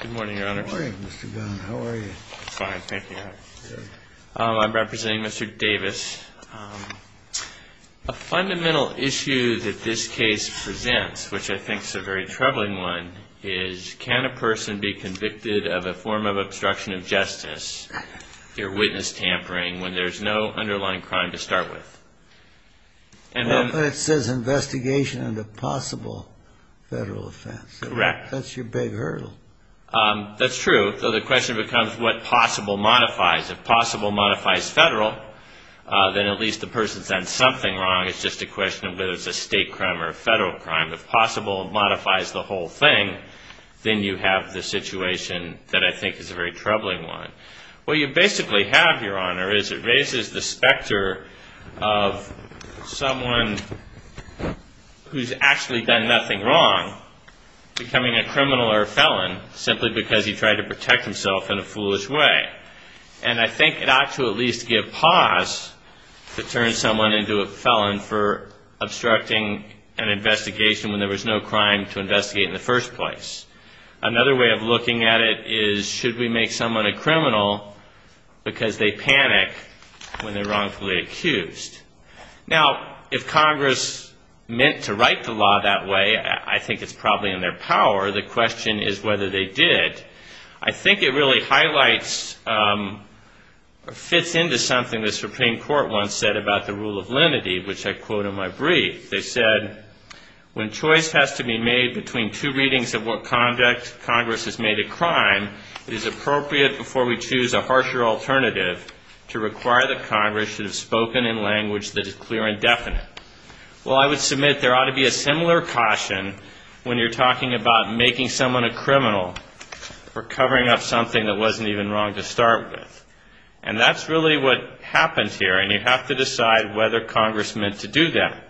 Good morning, your honors. Good morning, Mr. Gunn. How are you? Fine. Thank you. I'm representing Mr. Davis. A fundamental issue that this case presents, which I think is a very troubling one, is can a person be convicted of a form of obstruction of justice, ear witness tampering, when there's no underlying crime to start with? It says investigation into possible federal offense. Correct. That's your big hurdle. That's true. So the question becomes what possible modifies. If possible modifies federal, then at least the person's done something wrong. It's just a question of whether it's a state crime or a federal crime. If possible modifies the whole thing, then you have the situation that I think is a very troubling one. What you basically have, your honor, is it raises the specter of someone who's actually done nothing wrong becoming a criminal or a felon simply because he tried to protect himself in a foolish way. And I think it ought to at least give pause to turn someone into a felon for obstructing an investigation when there was no crime to investigate in the first place. Another way of looking at it is should we make someone a criminal because they panic when they're wrongfully accused? Now, if Congress meant to write the law that way, I think it's probably in their power. The question is whether they did. I think it really highlights or fits into something the Supreme Court once said about the rule of lenity, which I quote in my brief. They said, when choice has to be made between two readings of what conduct Congress has made a crime, it is appropriate before we choose a harsher alternative to require that language that is clear and definite. Well, I would submit there ought to be a similar caution when you're talking about making someone a criminal or covering up something that wasn't even wrong to start with. And that's really what happens here, and you have to decide whether Congress meant to do that.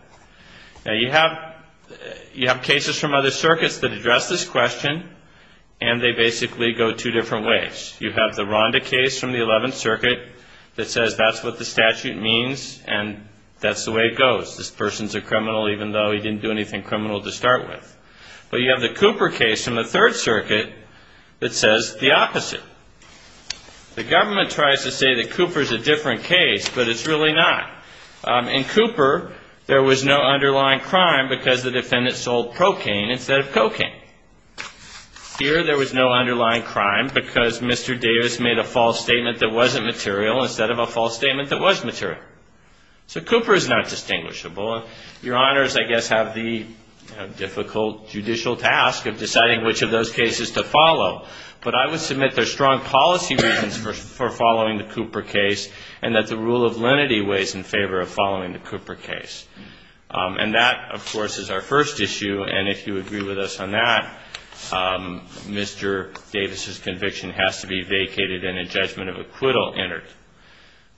Now, you have cases from other circuits that address this question, and they basically go two different ways. You have the Rhonda case from the 11th Circuit that says that's what the statute means, and that's the way it goes. This person's a criminal even though he didn't do anything criminal to start with. But you have the Cooper case from the 3rd Circuit that says the opposite. The government tries to say that Cooper's a different case, but it's really not. In Cooper, there was no underlying crime because the defendant sold procaine instead of cocaine. Here there was no underlying crime because Mr. Davis made a false statement that wasn't material. So Cooper is not distinguishable. Your Honors, I guess, have the difficult judicial task of deciding which of those cases to follow. But I would submit there's strong policy reasons for following the Cooper case, and that the rule of lenity weighs in favor of following the Cooper case. And that, of course, is our first issue, and if you agree with us on that, Mr. Davis' conviction has to be vacated and a judgment of acquittal entered.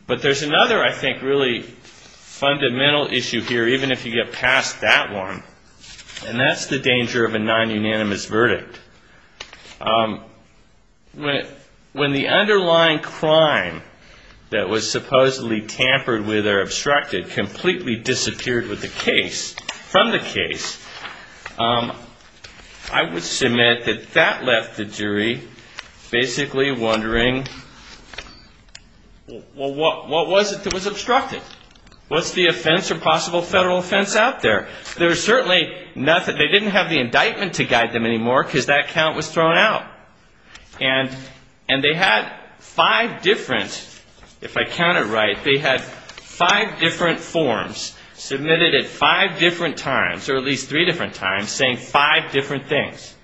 But there's another, I think, really fundamental issue here, even if you get past that one, and that's the danger of a non-unanimous verdict. When the underlying crime that was supposedly tampered with or obstructed completely disappeared from the case, I would submit that that left the jury basically wondering, well, what was it that was obstructed? What's the offense or possible federal offense out there? There's certainly nothing, they didn't have the indictment to guide them anymore because that count was thrown out. And they had five different, if I count it right, they had five different forms submitted at five different times, or at least three different times, saying five different things.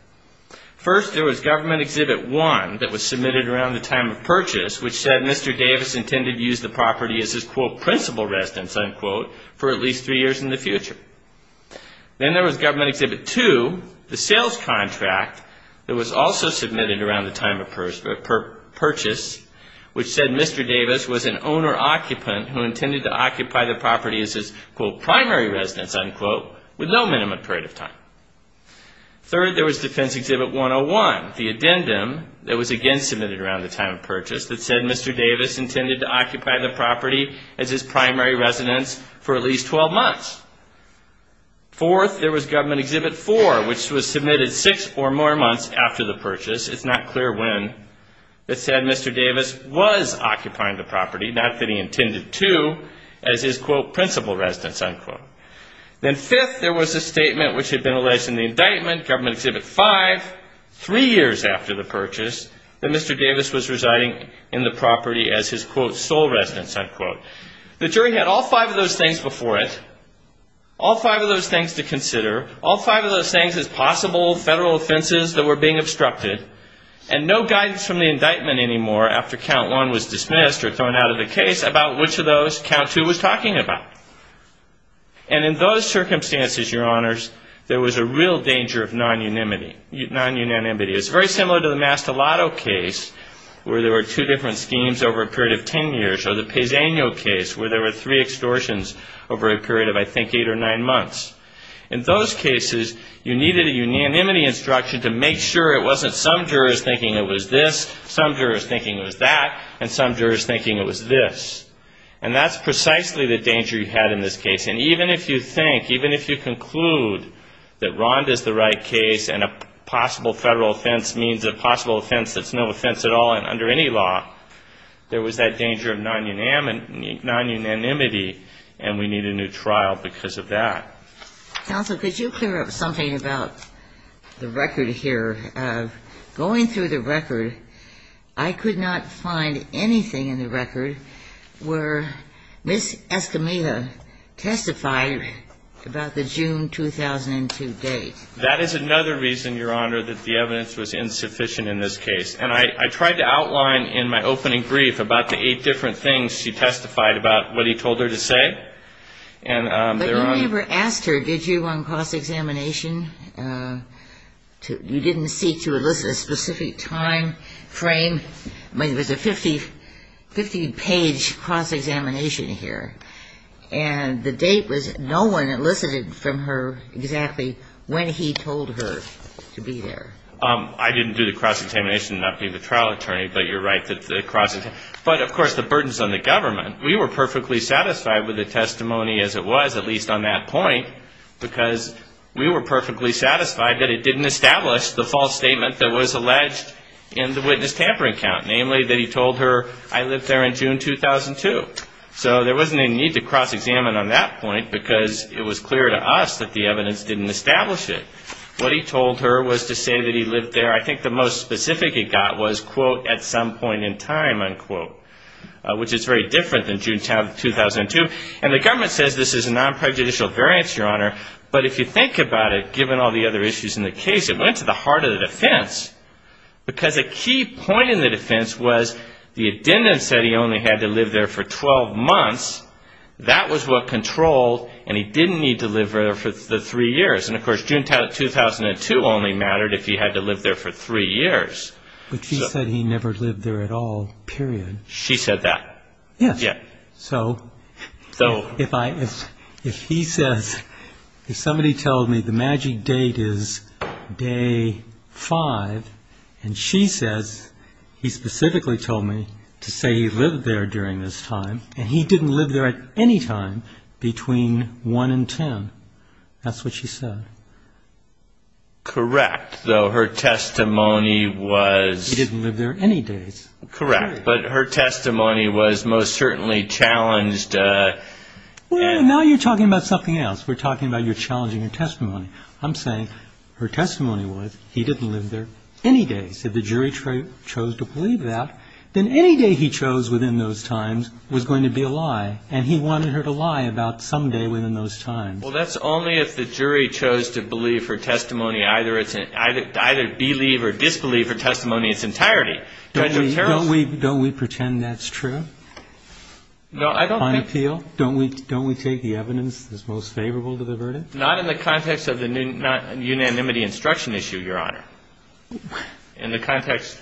First there was Government Exhibit 1 that was submitted around the time of purchase, which said Mr. Davis intended to use the property as his, quote, principal residence, unquote, for at least three years in the future. Then there was Government Exhibit 2, the sales contract, that was also submitted around the time of purchase, which said Mr. Davis was an owner-occupant who intended to occupy the property as his, quote, primary residence, unquote, with no minimum period of time. Third, there was Defense Exhibit 101, the addendum that was again submitted around the time of purchase that said Mr. Davis intended to occupy the property as his primary residence for at least 12 months. Fourth, there was Government Exhibit 4, which was submitted six or more months after the purchase, it's not clear when, that said Mr. Davis was occupying the property, not that he intended to, as his, quote, principal residence, unquote. Then fifth, there was a statement which had been alleged in the indictment, Government Exhibit 5, three years after the purchase, that Mr. Davis was residing in the property as his, quote, sole residence, unquote. The jury had all five of those things before it, all five of those things to consider, all five of those things as possible federal offenses that were being obstructed, and no guidance from the indictment anymore after Count 1 was dismissed or thrown out of the case about which of those Count 2 was talking about. And in those circumstances, Your Honors, there was a real danger of non-unanimity. It's very similar to the Mastolato case, where there were two different schemes over a period of ten years, or the Pezzegno case, where there were three extortions over a period of, I think, eight or nine months. In those cases, you needed a unanimity instruction to make sure it wasn't some jurors thinking it was this, some jurors thinking it was that, and some jurors thinking it was this. And that's precisely the danger you had in this case. And even if you think, even if you conclude that ROND is the right case and a possible federal offense means a possible offense that's no offense at all under any law, there was that danger of non-unanimity, and we need a new trial because of that. Counsel, could you clear up something about the record here? Going through the record, I could not find anything in the record where Ms. Escamilla testified about the June 2002 date. That is another reason, Your Honor, that the evidence was insufficient in this case. And I tried to outline in my opening brief about the eight different things she testified about what he told her to say. But you never asked her, did you, on cross-examination? You didn't seek to elicit a specific time frame. I mean, it was a 50-page cross-examination here. And the date was no one elicited from her exactly when he told her to be there. I didn't do the cross-examination, not being the trial attorney, but you're right. But of course, the burdens on the government. We were perfectly satisfied with the testimony as it was, at least on that point, because we were perfectly satisfied that it didn't establish the false statement that was alleged in the witness tampering count, namely that he told her, I lived there in June 2002. So there wasn't a need to cross-examine on that point because it was clear to us that the evidence didn't establish it. What he told her was to say that he lived there. I think the most specific he got was, quote, at some point in time, unquote, which is very different than June 2002. And the government says this is a non-prejudicial variance, Your Honor. But if you think about it, given all the other issues in the case, it went to the heart of the defense because a key point in the defense was the addendum said he only had to live there for 12 months. That was what controlled, and he didn't need to live there for the three years. And, of course, June 2002 only mattered if he had to live there for three years. But she said he never lived there at all, period. She said that? Yes. Yeah. So if he says, if somebody tells me the magic date is day five, and she says he specifically told me to say he lived there during this time, and he didn't live there at any time between 1 and 10, that's what she said? Correct. Though her testimony was... He didn't live there any days. Correct. But her testimony was most certainly challenged... Well, now you're talking about something else. We're talking about you're challenging her testimony. I'm saying her testimony was he didn't live there any days. If the jury chose to believe that, then any day he chose within those times was going to be a lie. And he wanted her to lie about some day within those times. Well, that's only if the jury chose to believe her testimony, either believe or disbelieve her testimony in its entirety. Don't we pretend that's true? No, I don't think... On appeal? Don't we take the evidence that's most favorable to the verdict? Not in the context of the unanimity instruction issue, Your Honor. In the context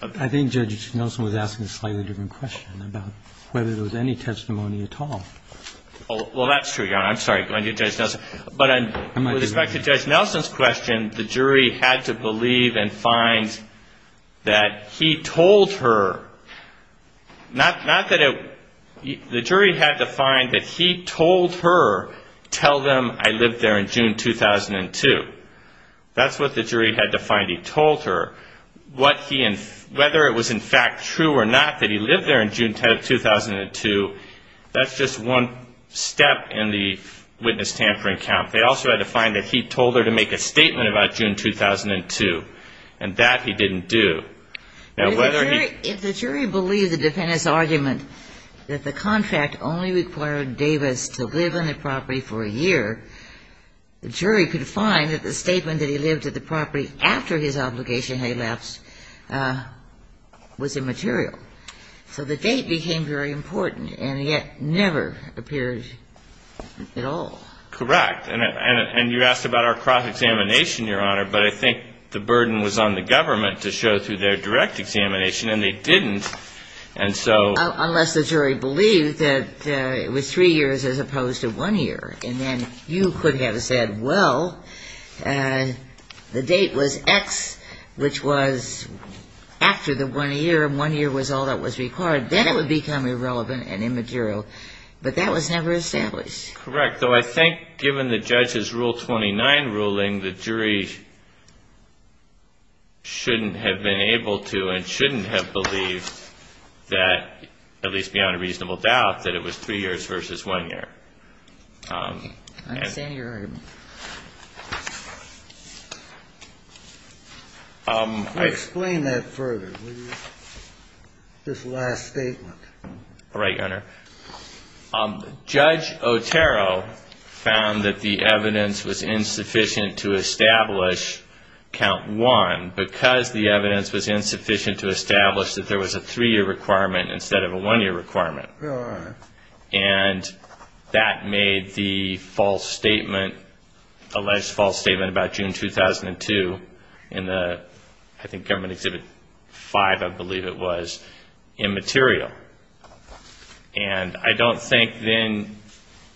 of... I think Judge Nelson was asking a slightly different question about whether there was any testimony at all. Well, that's true, Your Honor. I'm sorry, Judge Nelson. But with respect to Judge Nelson's question, the jury had to believe and find that he told her. Not that it... The jury had to find that he told her, tell them I lived there in June 2002. That's what the jury had to find. Whether it was in fact true or not that he lived there in June 2002, that's just one step in the witness tampering count. They also had to find that he told her to make a statement about June 2002, and that he didn't do. Now, whether he... If the jury believed the defendant's argument that the contract only required Davis to live on the property for a year, the jury could find that the statement that he lived at the property after his obligation had elapsed was immaterial. So the date became very important and yet never appeared at all. Correct. And you asked about our cross-examination, Your Honor, but I think the burden was on the government to show through their direct examination, and they didn't. And so... You could have said, well, the date was X, which was after the one year, and one year was all that was required. Then it would become irrelevant and immaterial. But that was never established. Correct. Though I think given the judge's Rule 29 ruling, the jury shouldn't have been able to and shouldn't have believed that, at least beyond a reasonable doubt, that it was three years versus one year. I understand your argument. Explain that further. This last statement. All right, Your Honor. Judge Otero found that the evidence was insufficient to establish count one because the evidence was insufficient to establish that there was a three-year requirement instead of a one-year requirement. Your Honor. And that made the false statement, alleged false statement about June 2002 in the, I think, Government Exhibit 5, I believe it was, immaterial. And I don't think then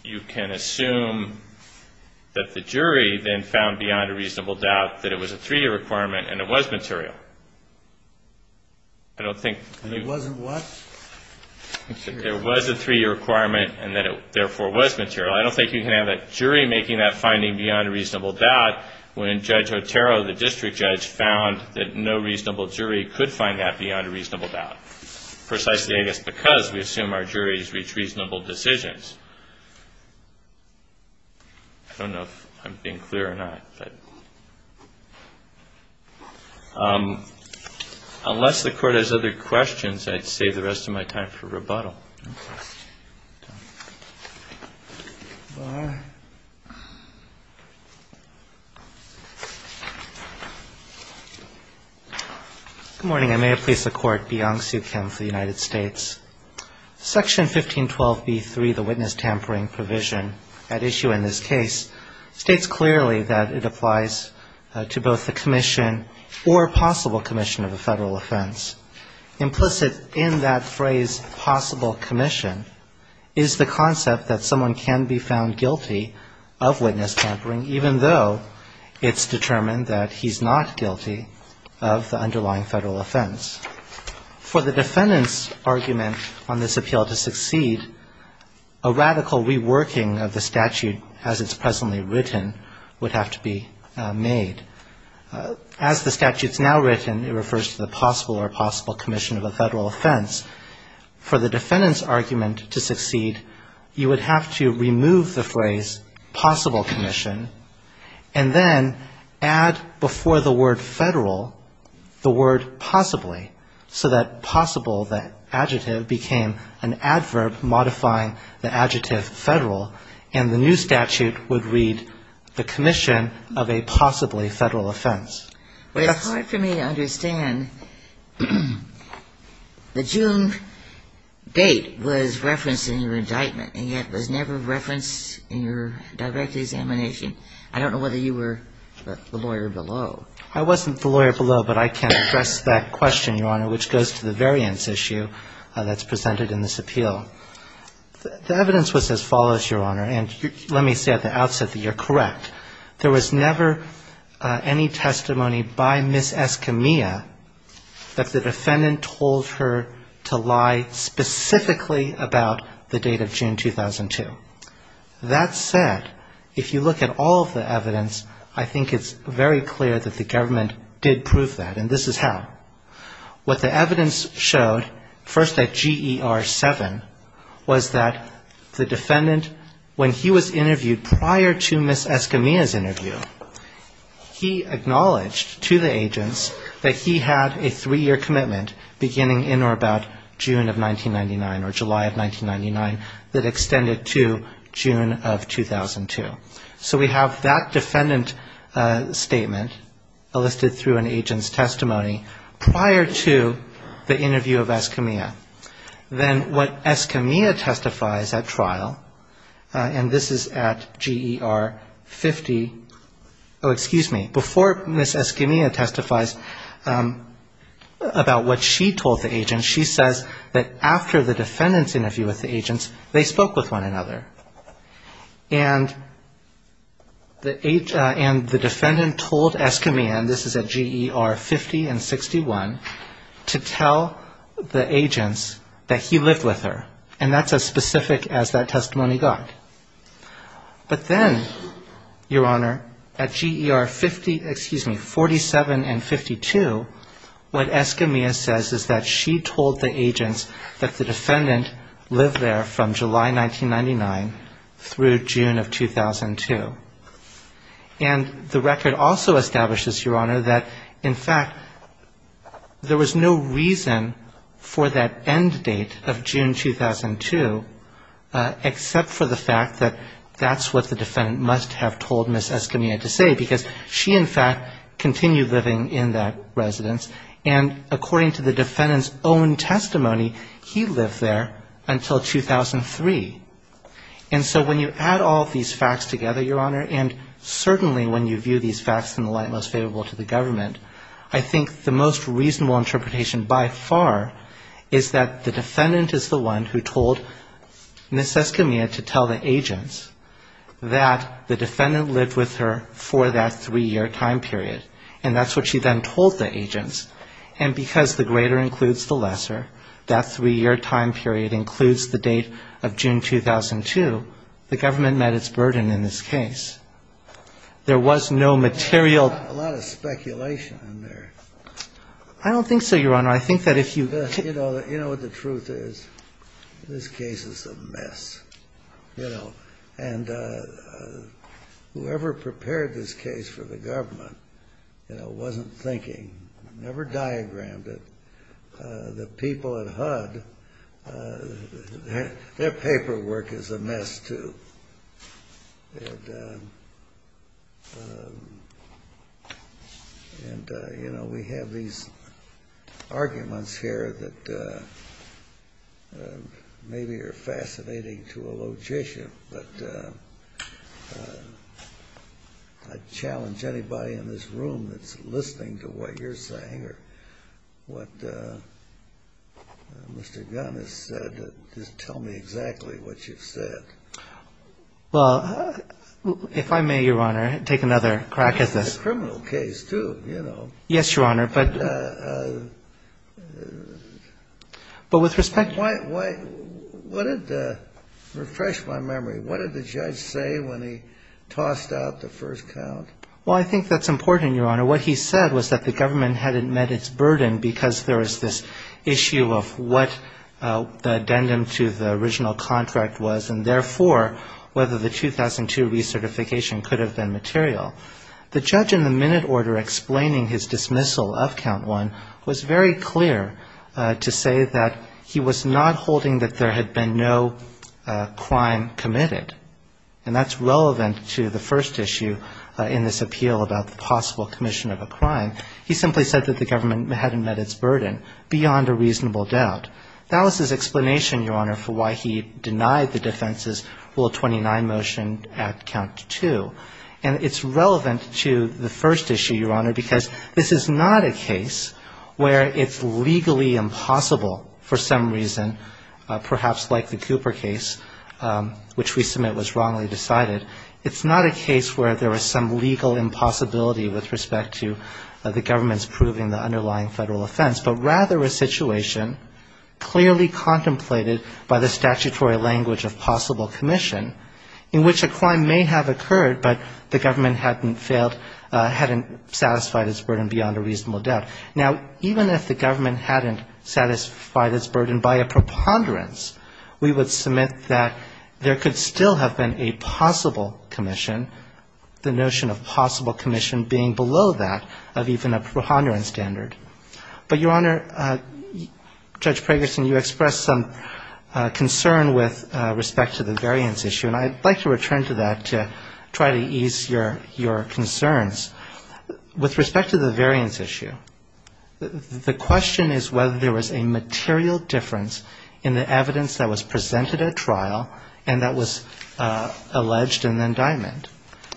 you can assume that the jury then found beyond a reasonable doubt that it was a three-year requirement and it was material. I don't think... It wasn't what? There was a three-year requirement and that it therefore was material. I don't think you can have a jury making that finding beyond a reasonable doubt when Judge Otero, the district judge, found that no reasonable jury could find that beyond a reasonable doubt. Precisely, I guess, because we assume our juries reach reasonable decisions. I don't know if I'm being clear or not. Unless the Court has other questions, I'd save the rest of my time for rebuttal. Good morning. I may have pleased the Court. Bian Suh Kim for the United States. Section 1512B3, the witness tampering provision at issue in this case, states clearly that it applies to all witnesses. It applies to both the commission or possible commission of a federal offense. Implicit in that phrase, possible commission, is the concept that someone can be found guilty of witness tampering, even though it's determined that he's not guilty of the underlying federal offense. For the defendant's argument on this appeal to succeed, a radical reworking of the statute as it's presently written would have to be made. As the statute's now written, it refers to the possible or possible commission of a federal offense. For the defendant's argument to succeed, you would have to remove the phrase possible commission and then add before the word federal the word possibly, so that possible, that adjective, became an adverb modifying the adjective federal, and the new statute would read the commission of a possibly federal offense. Well, it's hard for me to understand. The June date was referenced in your indictment, and yet was never referenced in your direct examination. I don't know whether you were the lawyer below. I wasn't the lawyer below, but I can address that question, Your Honor, which goes to the variance issue that's presented in this appeal. The evidence was as follows, Your Honor, and let me say at the outset that you're correct. There was never any testimony by Ms. Escamilla that the defendant told her to lie specifically about the date of June 2002. That said, if you look at all of the evidence, I think it's very clear that the government did prove that, and this is how. What the evidence showed, first at GER 7, was that the defendant, when he was interviewed prior to Ms. Escamilla, he acknowledged to the agents that he had a three-year commitment beginning in or about June of 1999, or July of 1999, that extended to June of 2002. So we have that defendant statement listed through an agent's testimony prior to the interview of Escamilla. Then what Escamilla testifies at trial, and this is at GER 15, is that the defendant testified prior to Ms. Escamilla, and at GER 50, oh, excuse me, before Ms. Escamilla testifies about what she told the agents, she says that after the defendant's interview with the agents, they spoke with one another, and the defendant told Escamilla, and this is at GER 50 and 61, to tell the agents that he lived with her, and that's as specific as that testimony got. Then, Your Honor, at GER 50, excuse me, 47 and 52, what Escamilla says is that she told the agents that the defendant lived there from July 1999 through June of 2002. And the record also establishes, Your Honor, that, in fact, there was no reason for that end date of June 2002, except for the fact that that's what the defendant must have told Ms. Escamilla. And that's what Ms. Escamilla had to say, because she, in fact, continued living in that residence, and according to the defendant's own testimony, he lived there until 2003. And so when you add all of these facts together, Your Honor, and certainly when you view these facts in the light most favorable to the government, I think the most reasonable interpretation by far is that the defendant is the one who told Ms. Escamilla to tell the agents that the defendant lived with her in June of 2002. And that's what she told the agents, and because the greater includes the lesser, that three-year time period includes the date of June 2002, the government met its burden in this case. There was no material ---- A lot of speculation in there. I don't think so, Your Honor. I think that if you ---- You know what the truth is? This case is a mess. And whoever prepared this case for the government wasn't thinking, never diagrammed it. The people at HUD, their paperwork is a mess, too. And, you know, we have these arguments here that maybe are fascinating to a logician, but I challenge anybody in this room that's listening to what you're saying or what Mr. Gunn has said, just tell me exactly what you've said. Well, if I may, Your Honor, take another crack at this. It's a criminal case, too, you know. Yes, Your Honor, but with respect to ---- Why, why, what did, refresh my memory, what did the judge say when he tossed out the first count? Well, I think that's important, Your Honor. What he said was that the government had met its burden because there was this issue of what the addendum to the original contract was and, therefore, whether the 2002 recertification could have been material. The judge in the minute order explaining his dismissal of count one was very clear to say that he was not holding that there had been no crime committed. And that's relevant to the first issue in this appeal about the possible commission of a crime. He simply said that the government hadn't met its burden beyond a reasonable doubt. That was his explanation, Your Honor, for why he denied the defense's rule 29 motion at count two. And it's relevant to the first issue, Your Honor, because this is not a case where it's legally impossible for some reason, perhaps like the Cooper case, which we saw earlier. It's not a case where there was some legal impossibility with respect to the government's proving the underlying federal offense, but rather a situation clearly contemplated by the statutory language of possible commission in which a crime may have occurred, but the government hadn't failed, hadn't satisfied its burden beyond a reasonable doubt. Now, even if the government hadn't satisfied its burden by a preponderance, we would submit that there could still have been a crime committed. There would still have been a possible commission, the notion of possible commission being below that of even a preponderance standard. But, Your Honor, Judge Pragerson, you expressed some concern with respect to the variance issue, and I'd like to return to that to try to ease your concerns. With respect to the variance issue, the question is whether there was a material difference in the evidence that was presented at trial and that was alleged in the indictment.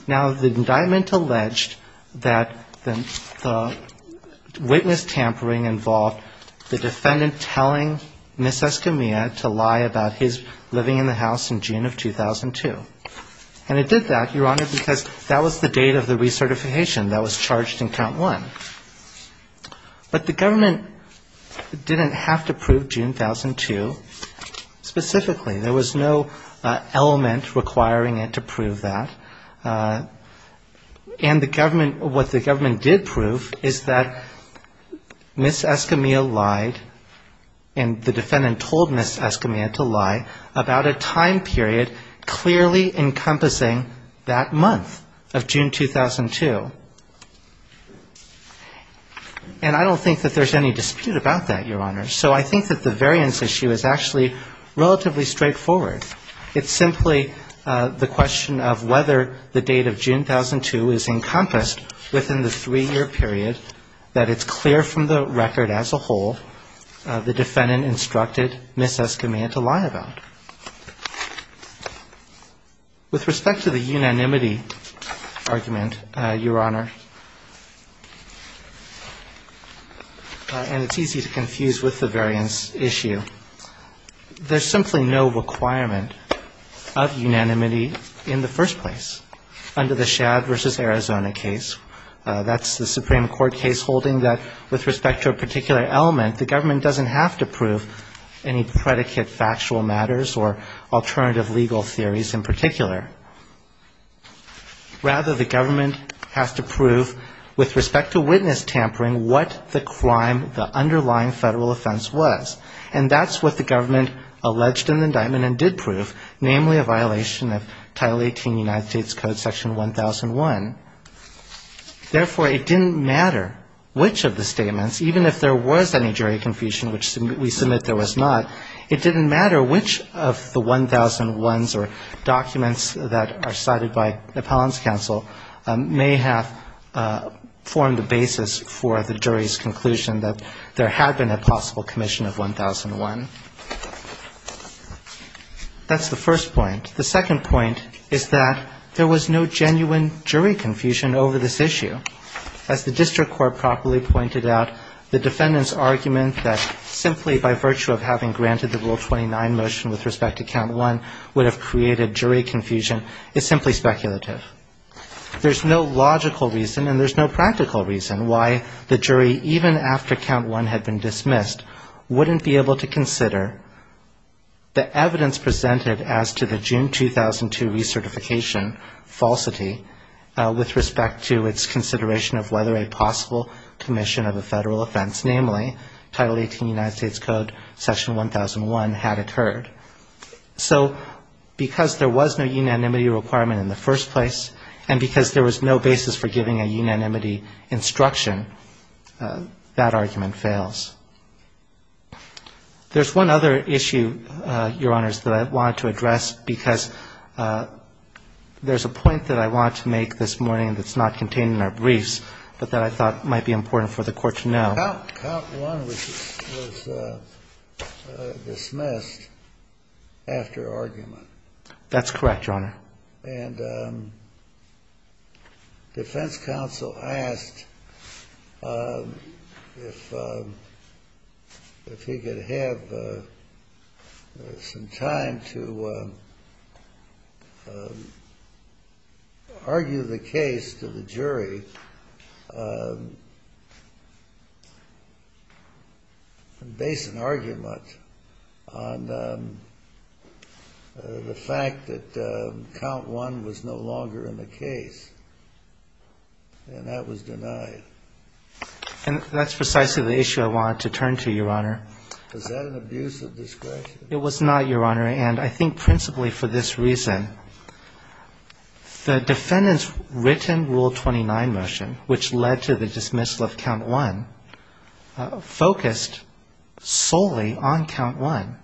Now, the indictment alleged that the witness tampering involved the defendant telling Ms. Escamilla to lie about his living in the house in June of 2002. And it did that, Your Honor, because that was the date of the recertification that was charged in count one. But the government didn't have to prove June 2002 specifically. There was no element requiring it to prove that. And the government, what the government did prove is that Ms. Escamilla lied, and the defendant told Ms. Escamilla to lie about a time period clearly encompassing that month of June 2002. And I don't think that there's any dispute about that, Your Honor. So I think that the variance issue is actually relatively straightforward. It's simply the question of whether the date of June 2002 is encompassed within the three-year period that it's clear from the record as a whole the defendant instructed Ms. Escamilla to lie about. With respect to the unanimity argument, Your Honor, and it's easy to confuse with the unanimity argument. With respect to the variance issue, there's simply no requirement of unanimity in the first place under the Shad v. Arizona case. That's the Supreme Court case holding that with respect to a particular element, the government doesn't have to prove any predicate factual matters or alternative legal theories in particular. Rather, the government has to prove with respect to witness tampering what the crime, the underlying federal offense, was. And that's what the government alleged in the indictment and did prove, namely a violation of Title 18 United States Code Section 1001. Therefore, it didn't matter which of the statements, even if there was any jury confusion, which we submit there was not, it didn't matter which of the 1001s or documents that are cited by the Appellant's Counsel may have formed a basis for the jury's conclusion that there had been a possible commission of 1001. That's the first point. The second point is that there was no genuine jury confusion over this issue. As the district court properly pointed out, the defendant's argument that simply by virtue of having granted the Rule 29 motion with respect to count one would have created jury confusion is simply speculative. There's no logical reason and there's no practical reason why the jury, even after count one had been dismissed, wouldn't be able to consider the evidence presented as to the June 2002 recertification falsity with respect to its consideration of whether a possible commission of a federal offense, namely Title 18 United States Code Section 1001, had occurred. So because there was no unanimity requirement in the first place and because there was no basis for giving a unanimity instruction, that argument fails. There's one other issue, Your Honors, that I wanted to address because there's a point that I wanted to make this morning that's not contained in our briefs but that I thought might be important for the Court to know. Count one was dismissed after argument. That's correct, Your Honor. And defense counsel asked if he could have some time to argue the case to the jury. And based an argument on the fact that count one was no longer in the case, and that was denied. And that's precisely the issue I wanted to turn to, Your Honor. Was that an abuse of discretion? It was not, Your Honor, and I think principally for this reason. The defendant's written Rule 29 motion, which led to the dismissal of count one, focused solely on count one.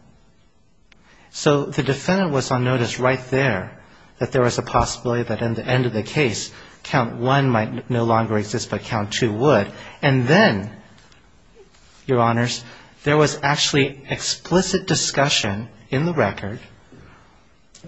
So the defendant was on notice right there that there was a possibility that in the end of the case, count one might no longer exist, but count two would. And then, Your Honors, there was actually explicit discussion in the record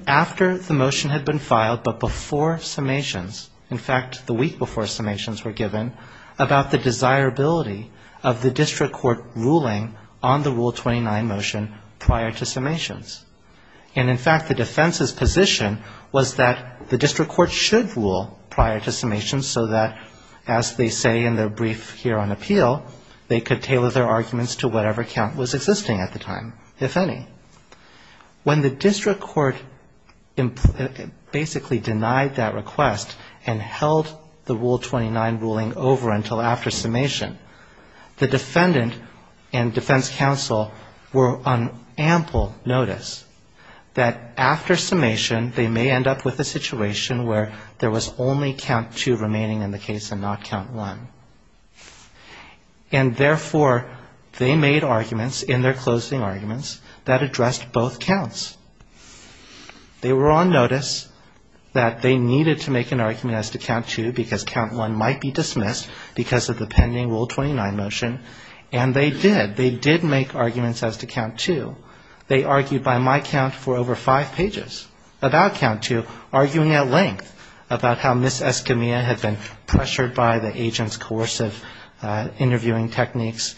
after the motion had been filed but before summations, in fact, the week before summations were given, about the desirability of the district court ruling on the Rule 29 motion prior to summations. And in fact, the defense's position was that the district court should rule prior to summations so that, as they say in their brief here on appeal, they could tailor their arguments to whatever count was existing at the time, if any. When the district court basically denied that request and held the Rule 29 ruling over until after summation, the defendant and defense counsel were on ample notice that after summation they may end up with a situation where there was only count two remaining in the case and not count one. And therefore, they made arguments in their closing arguments that addressed both counts. They were on notice that they needed to make an argument as to count two because count one might be dismissed because of the pending Rule 29 motion, and they did. They did make arguments as to count two. They argued by my count for over five pages about count two, arguing at length about how Ms. Escamilla had been pressured by the agent's coercive interviewing techniques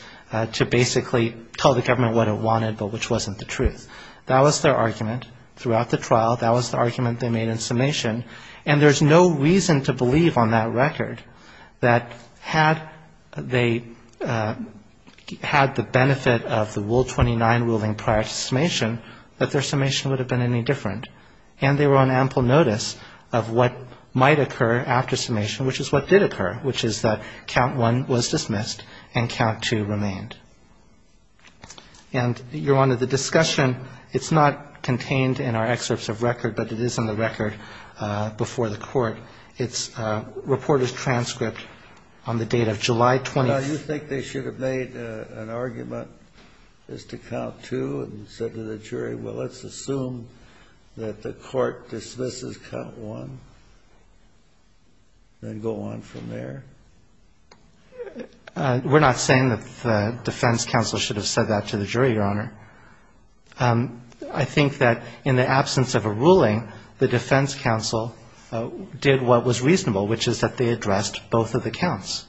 to basically tell the government what it wanted but which wasn't the truth. That was their argument throughout the trial. That was the argument they made in summation. And there's no reason to believe on that record that had they had the benefit of the Rule 29 ruling prior to summation, that their summation would have been any different, and they were on ample notice of what might occur after summation, which is what did occur, which is that count one was dismissed and count two remained. And you're on to the discussion. You're on to the discussion. I think the defense counsel should have said that before the court. It's reported transcript on the date of July 20th. And you think they should have made an argument as to count two and said to the jury, well, let's assume that the court dismisses count one and then go on from there? We're not saying that the defense counsel should have said that to the jury, Your Honor. I think that in the absence of a ruling, the defense counsel did what was reasonable, which is that they addressed both of the counts.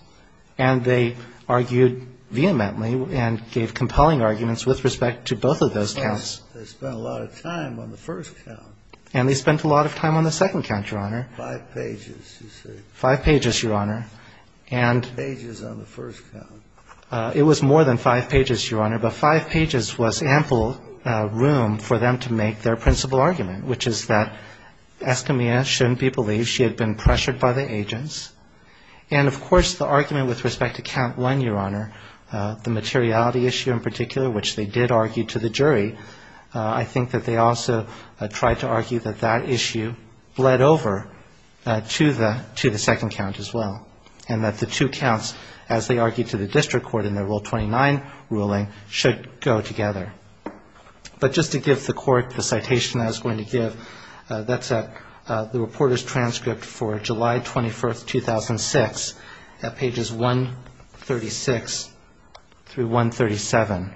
And they argued vehemently and gave compelling arguments with respect to both of those counts. They spent a lot of time on the first count. And they spent a lot of time on the second count, Your Honor. Five pages, you say. Five pages, Your Honor. Five pages on the first count. It was more than five pages, Your Honor, but five pages was ample room for them to make their principal argument, which is that Estimia shouldn't be believed. She had been pressured by the agents. And, of course, the argument with respect to count one, Your Honor, the materiality issue in particular, which they did argue to the jury, I think that they also tried to argue that that issue bled over to the second count as well, and that the two counts, as they argued to the district court in their Rule 29 ruling, should go together. But just to give the court the citation I was going to give, that's the reporter's transcript for July 21, 2006, at pages 136 through 137.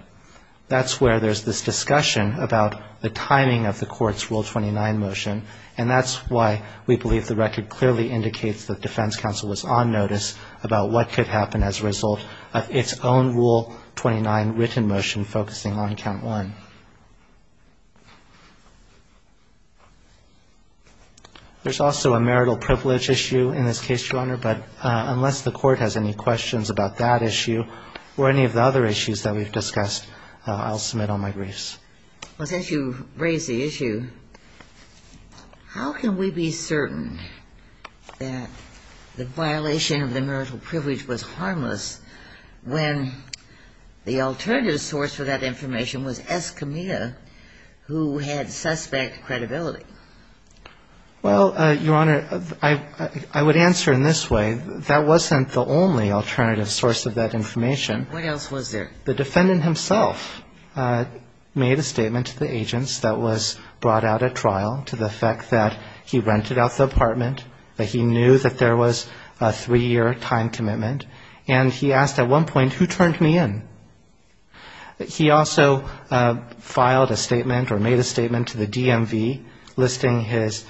That's where there's this discussion about the timing of the court's Rule 29 motion, and that's why we believe the record clearly indicates that defense counsel was on notice about what could happen as a result of its own Rule 29 written motion focusing on count one. There's also a marital privilege issue in this case, Your Honor, but unless the court has any questions about that issue or any of the other issues that we've discussed, I'll submit all my briefs. Well, since you raised the issue, how can we be certain that the violation of the marital privilege was harmless when the alternative source for that information was the court? I mean, it was Escamilla who had suspect credibility. Well, Your Honor, I would answer in this way. That wasn't the only alternative source of that information. What else was there? The defendant himself made a statement to the agents that was brought out at trial to the effect that he rented out the apartment, that he knew that there was a three-year time commitment, and he asked at one point, who turned me in? He filed a statement or made a statement to the DMV listing his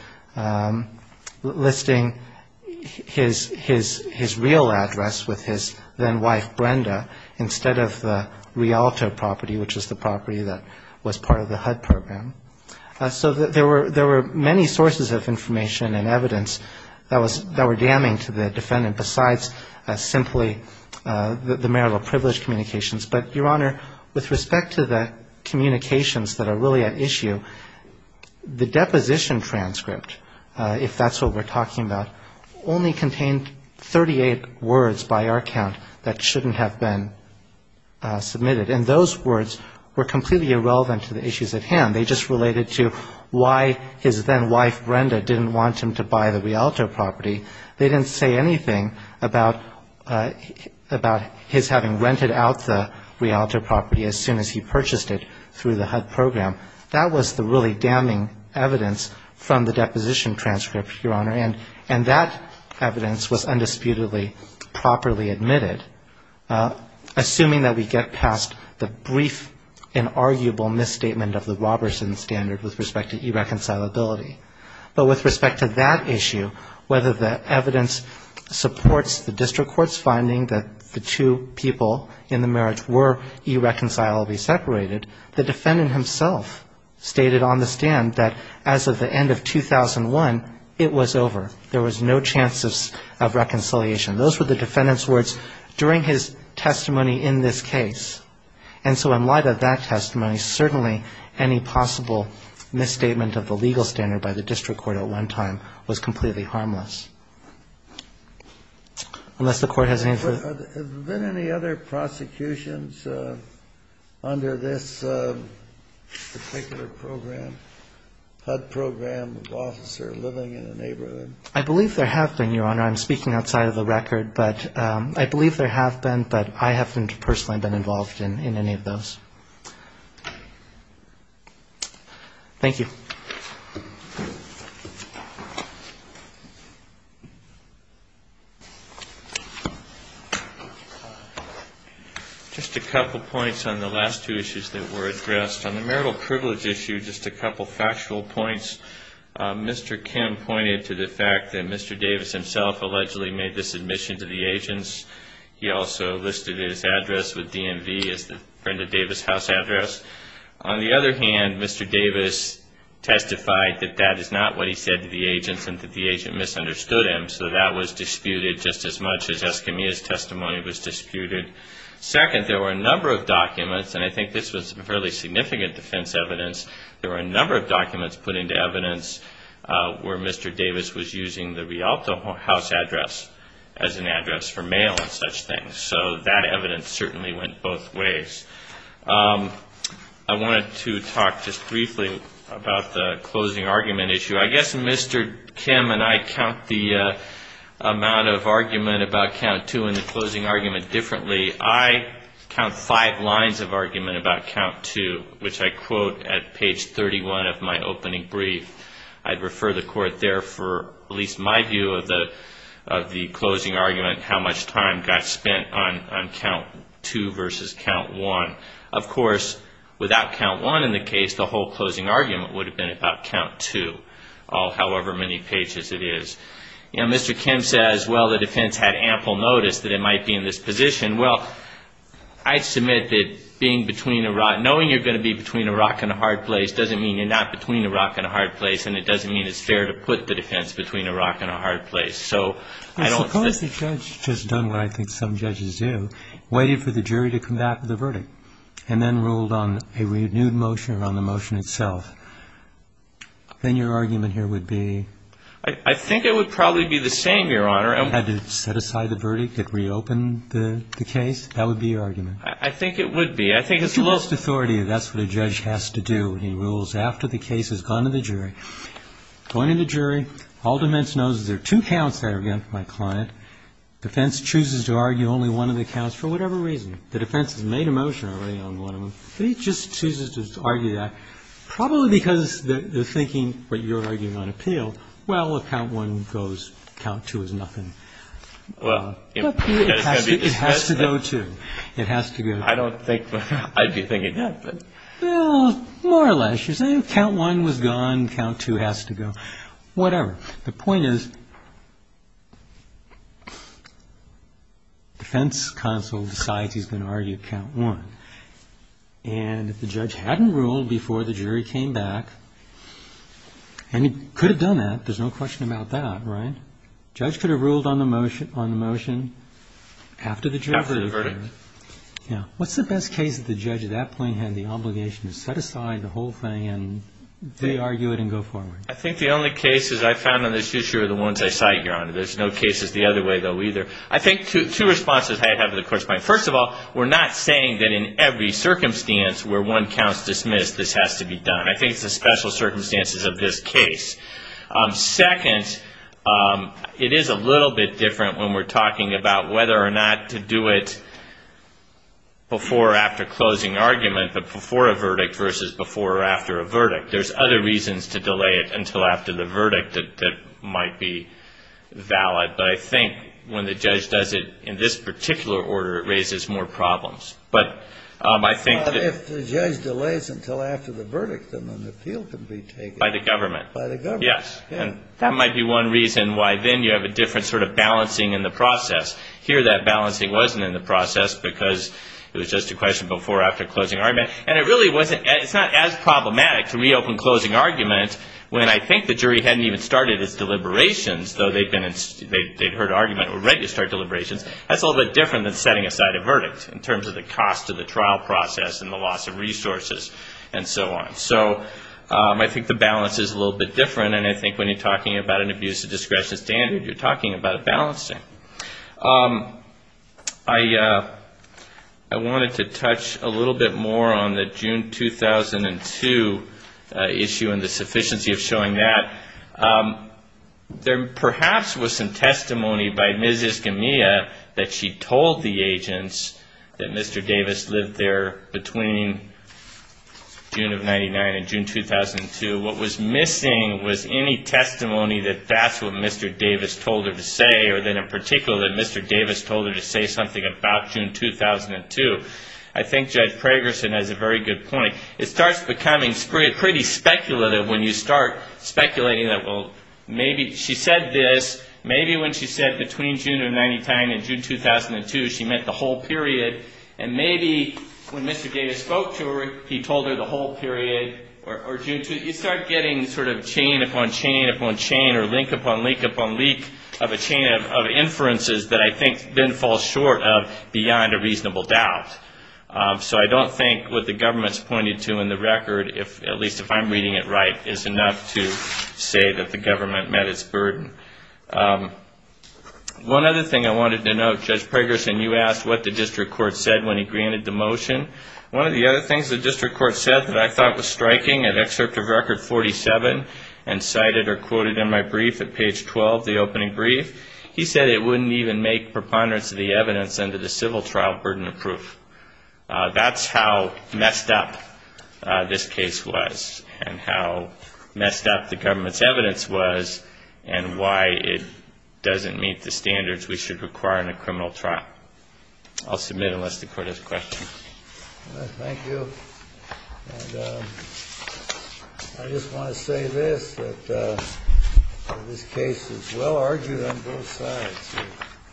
real address with his then-wife, Brenda, instead of the Rialto property, which was the property that was part of the HUD program. So there were many sources of information and evidence that were damning to the defendant besides simply the marital privilege communications. But, Your Honor, with respect to the communications that are really at issue, the deposition transcript, if that's what we're talking about, only contained 38 words by our count that shouldn't have been submitted. And those words were completely irrelevant to the issues at hand. They just related to why his then-wife, Brenda, didn't want him to buy the Rialto property. They didn't say anything about his having rented out the Rialto property as soon as he purchased it through the HUD program. That was the really damning evidence from the deposition transcript, Your Honor, and that evidence was undisputedly properly admitted, assuming that we get past the brief and arguable misstatement of the Robertson standard with respect to irreconcilability. But with respect to that issue, whether the evidence supports the district court's finding that the two people in the marriage were irreconcilably separated, the defendant himself stated on the stand that as of the end of 2001, it was over. There was no chance of reconciliation. Those were the defendant's words during his testimony in this case. And so in light of that testimony, certainly any possible misstatement of the legal standard by the district court at one time was completely harmless. Unless the court has any further... Have there been any other prosecutions under this particular program, HUD program of officer living in a neighborhood? I believe there have been, Your Honor. I'm speaking outside of the record, but I believe there have been, but I haven't personally been involved in any of those. Thank you. Just a couple points on the last two issues that were addressed. On the marital privilege issue, just a couple factual points. First, the defendant himself allegedly made this admission to the agents. He also listed his address with DMV as the Brenda Davis house address. On the other hand, Mr. Davis testified that that is not what he said to the agents and that the agent misunderstood him. So that was disputed just as much as Escamilla's testimony was disputed. Second, there were a number of documents, and I think this was fairly significant defense evidence. He did not use his address as an address for mail and such things. So that evidence certainly went both ways. I wanted to talk just briefly about the closing argument issue. I guess Mr. Kim and I count the amount of argument about count two and the closing argument differently. I count five lines of argument about count two, which I quote at page 31 of my opening brief. I quote at page 31 of the closing argument how much time got spent on count two versus count one. Of course, without count one in the case, the whole closing argument would have been about count two, however many pages it is. Mr. Kim says, well, the defense had ample notice that it might be in this position. Well, I submit that knowing you're going to be between a rock and a hard place doesn't mean you're not between a rock and a hard place, and it doesn't mean it's fair to put the defense between a rock and a hard place. Suppose the judge has done what I think some judges do, waited for the jury to come back with a verdict, and then ruled on a renewed motion or on the motion itself. Then your argument here would be? I think it would be. If you lost authority, that's what a judge has to do when he rules after the case has gone to the jury. Going to the jury, all defense knows is there are two counts there against my client. Defense chooses to argue only one of the counts for whatever reason. The defense has made a motion already on one of them, but he just chooses to argue that, probably because they're thinking what you're arguing on appeal. Well, if count one goes, count two is nothing. It has to go, too. I don't think I'd be thinking that. More or less, you're saying count one was gone, count two has to go. Whatever. The point is, defense counsel decides he's going to argue count one, and if the judge hadn't ruled before the jury came back, and he could have done that, there's no question about that, right? The judge could have ruled on the motion after the verdict. What's the best case that the judge at that point had the obligation to set aside the whole thing and they argue it and go forward? I think the only cases I found on this issue are the ones I cite, Your Honor. There's no cases the other way, though, either. First of all, we're not saying that in every circumstance where one count's dismissed, this has to be done. I think it's the special circumstances of this case. Second, it is a little bit different when we're talking about whether or not to do it before or after closing argument, but before a verdict versus before or after a verdict. There's other reasons to delay it until after the verdict that might be valid, but I think when the judge does it in this particular order, it raises more problems. But if the judge delays until after the verdict, then an appeal can be taken. By the government. By the government. Yes. And that might be one reason why then you have a different sort of balancing in the process. Here that balancing wasn't in the process because it was just a question before or after closing argument. And it really wasn't as problematic to reopen closing argument when I think the jury hadn't even started its deliberations, though they'd heard argument and were ready to start deliberations. That's a little bit different than setting aside a verdict in terms of the cost of the trial process and the loss of resources and so on. So I think the balance is a little bit different, and I think when you're talking about an abuse of discretion standard, you're talking about a balancing. I wanted to touch a little bit more on the June 2002 issue and the sufficiency of showing that. There perhaps was some testimony by Ms. Escamilla that she told the agents that Mr. Davis lived there between June of 99 and June 2002. What was missing was any testimony that that's what Mr. Davis told her to say or that in particular that Mr. Davis told her to say something about June 2002. I think Judge Pragerson has a very good point. It starts becoming pretty speculative when you start speculating that, well, maybe she said this. Maybe when she said between June of 99 and June 2002, she meant the whole period. And maybe when Mr. Davis spoke to her, he told her the whole period. You start getting sort of chain upon chain upon chain or link upon link upon link of a chain of inferences that I think then fall short of beyond a reasonable doubt. So I don't think what the government's pointed to in the record, at least if I'm reading it right, is enough to say that the government met its burden. One other thing I wanted to note, Judge Pragerson, you asked what the district court said when he granted the motion. One of the other things the district court said that I thought was striking in Excerpt of Record 47 and cited or quoted in my brief at page 12, the opening brief, he said it wouldn't even make preponderance of the evidence under the civil trial burden of proof. That's how messed up this case was and how messed up the government's evidence was and why it doesn't meet the standards we should require in a criminal trial. I'll submit unless the court has a question. Thank you. I just want to say this, that this case is well argued on both sides.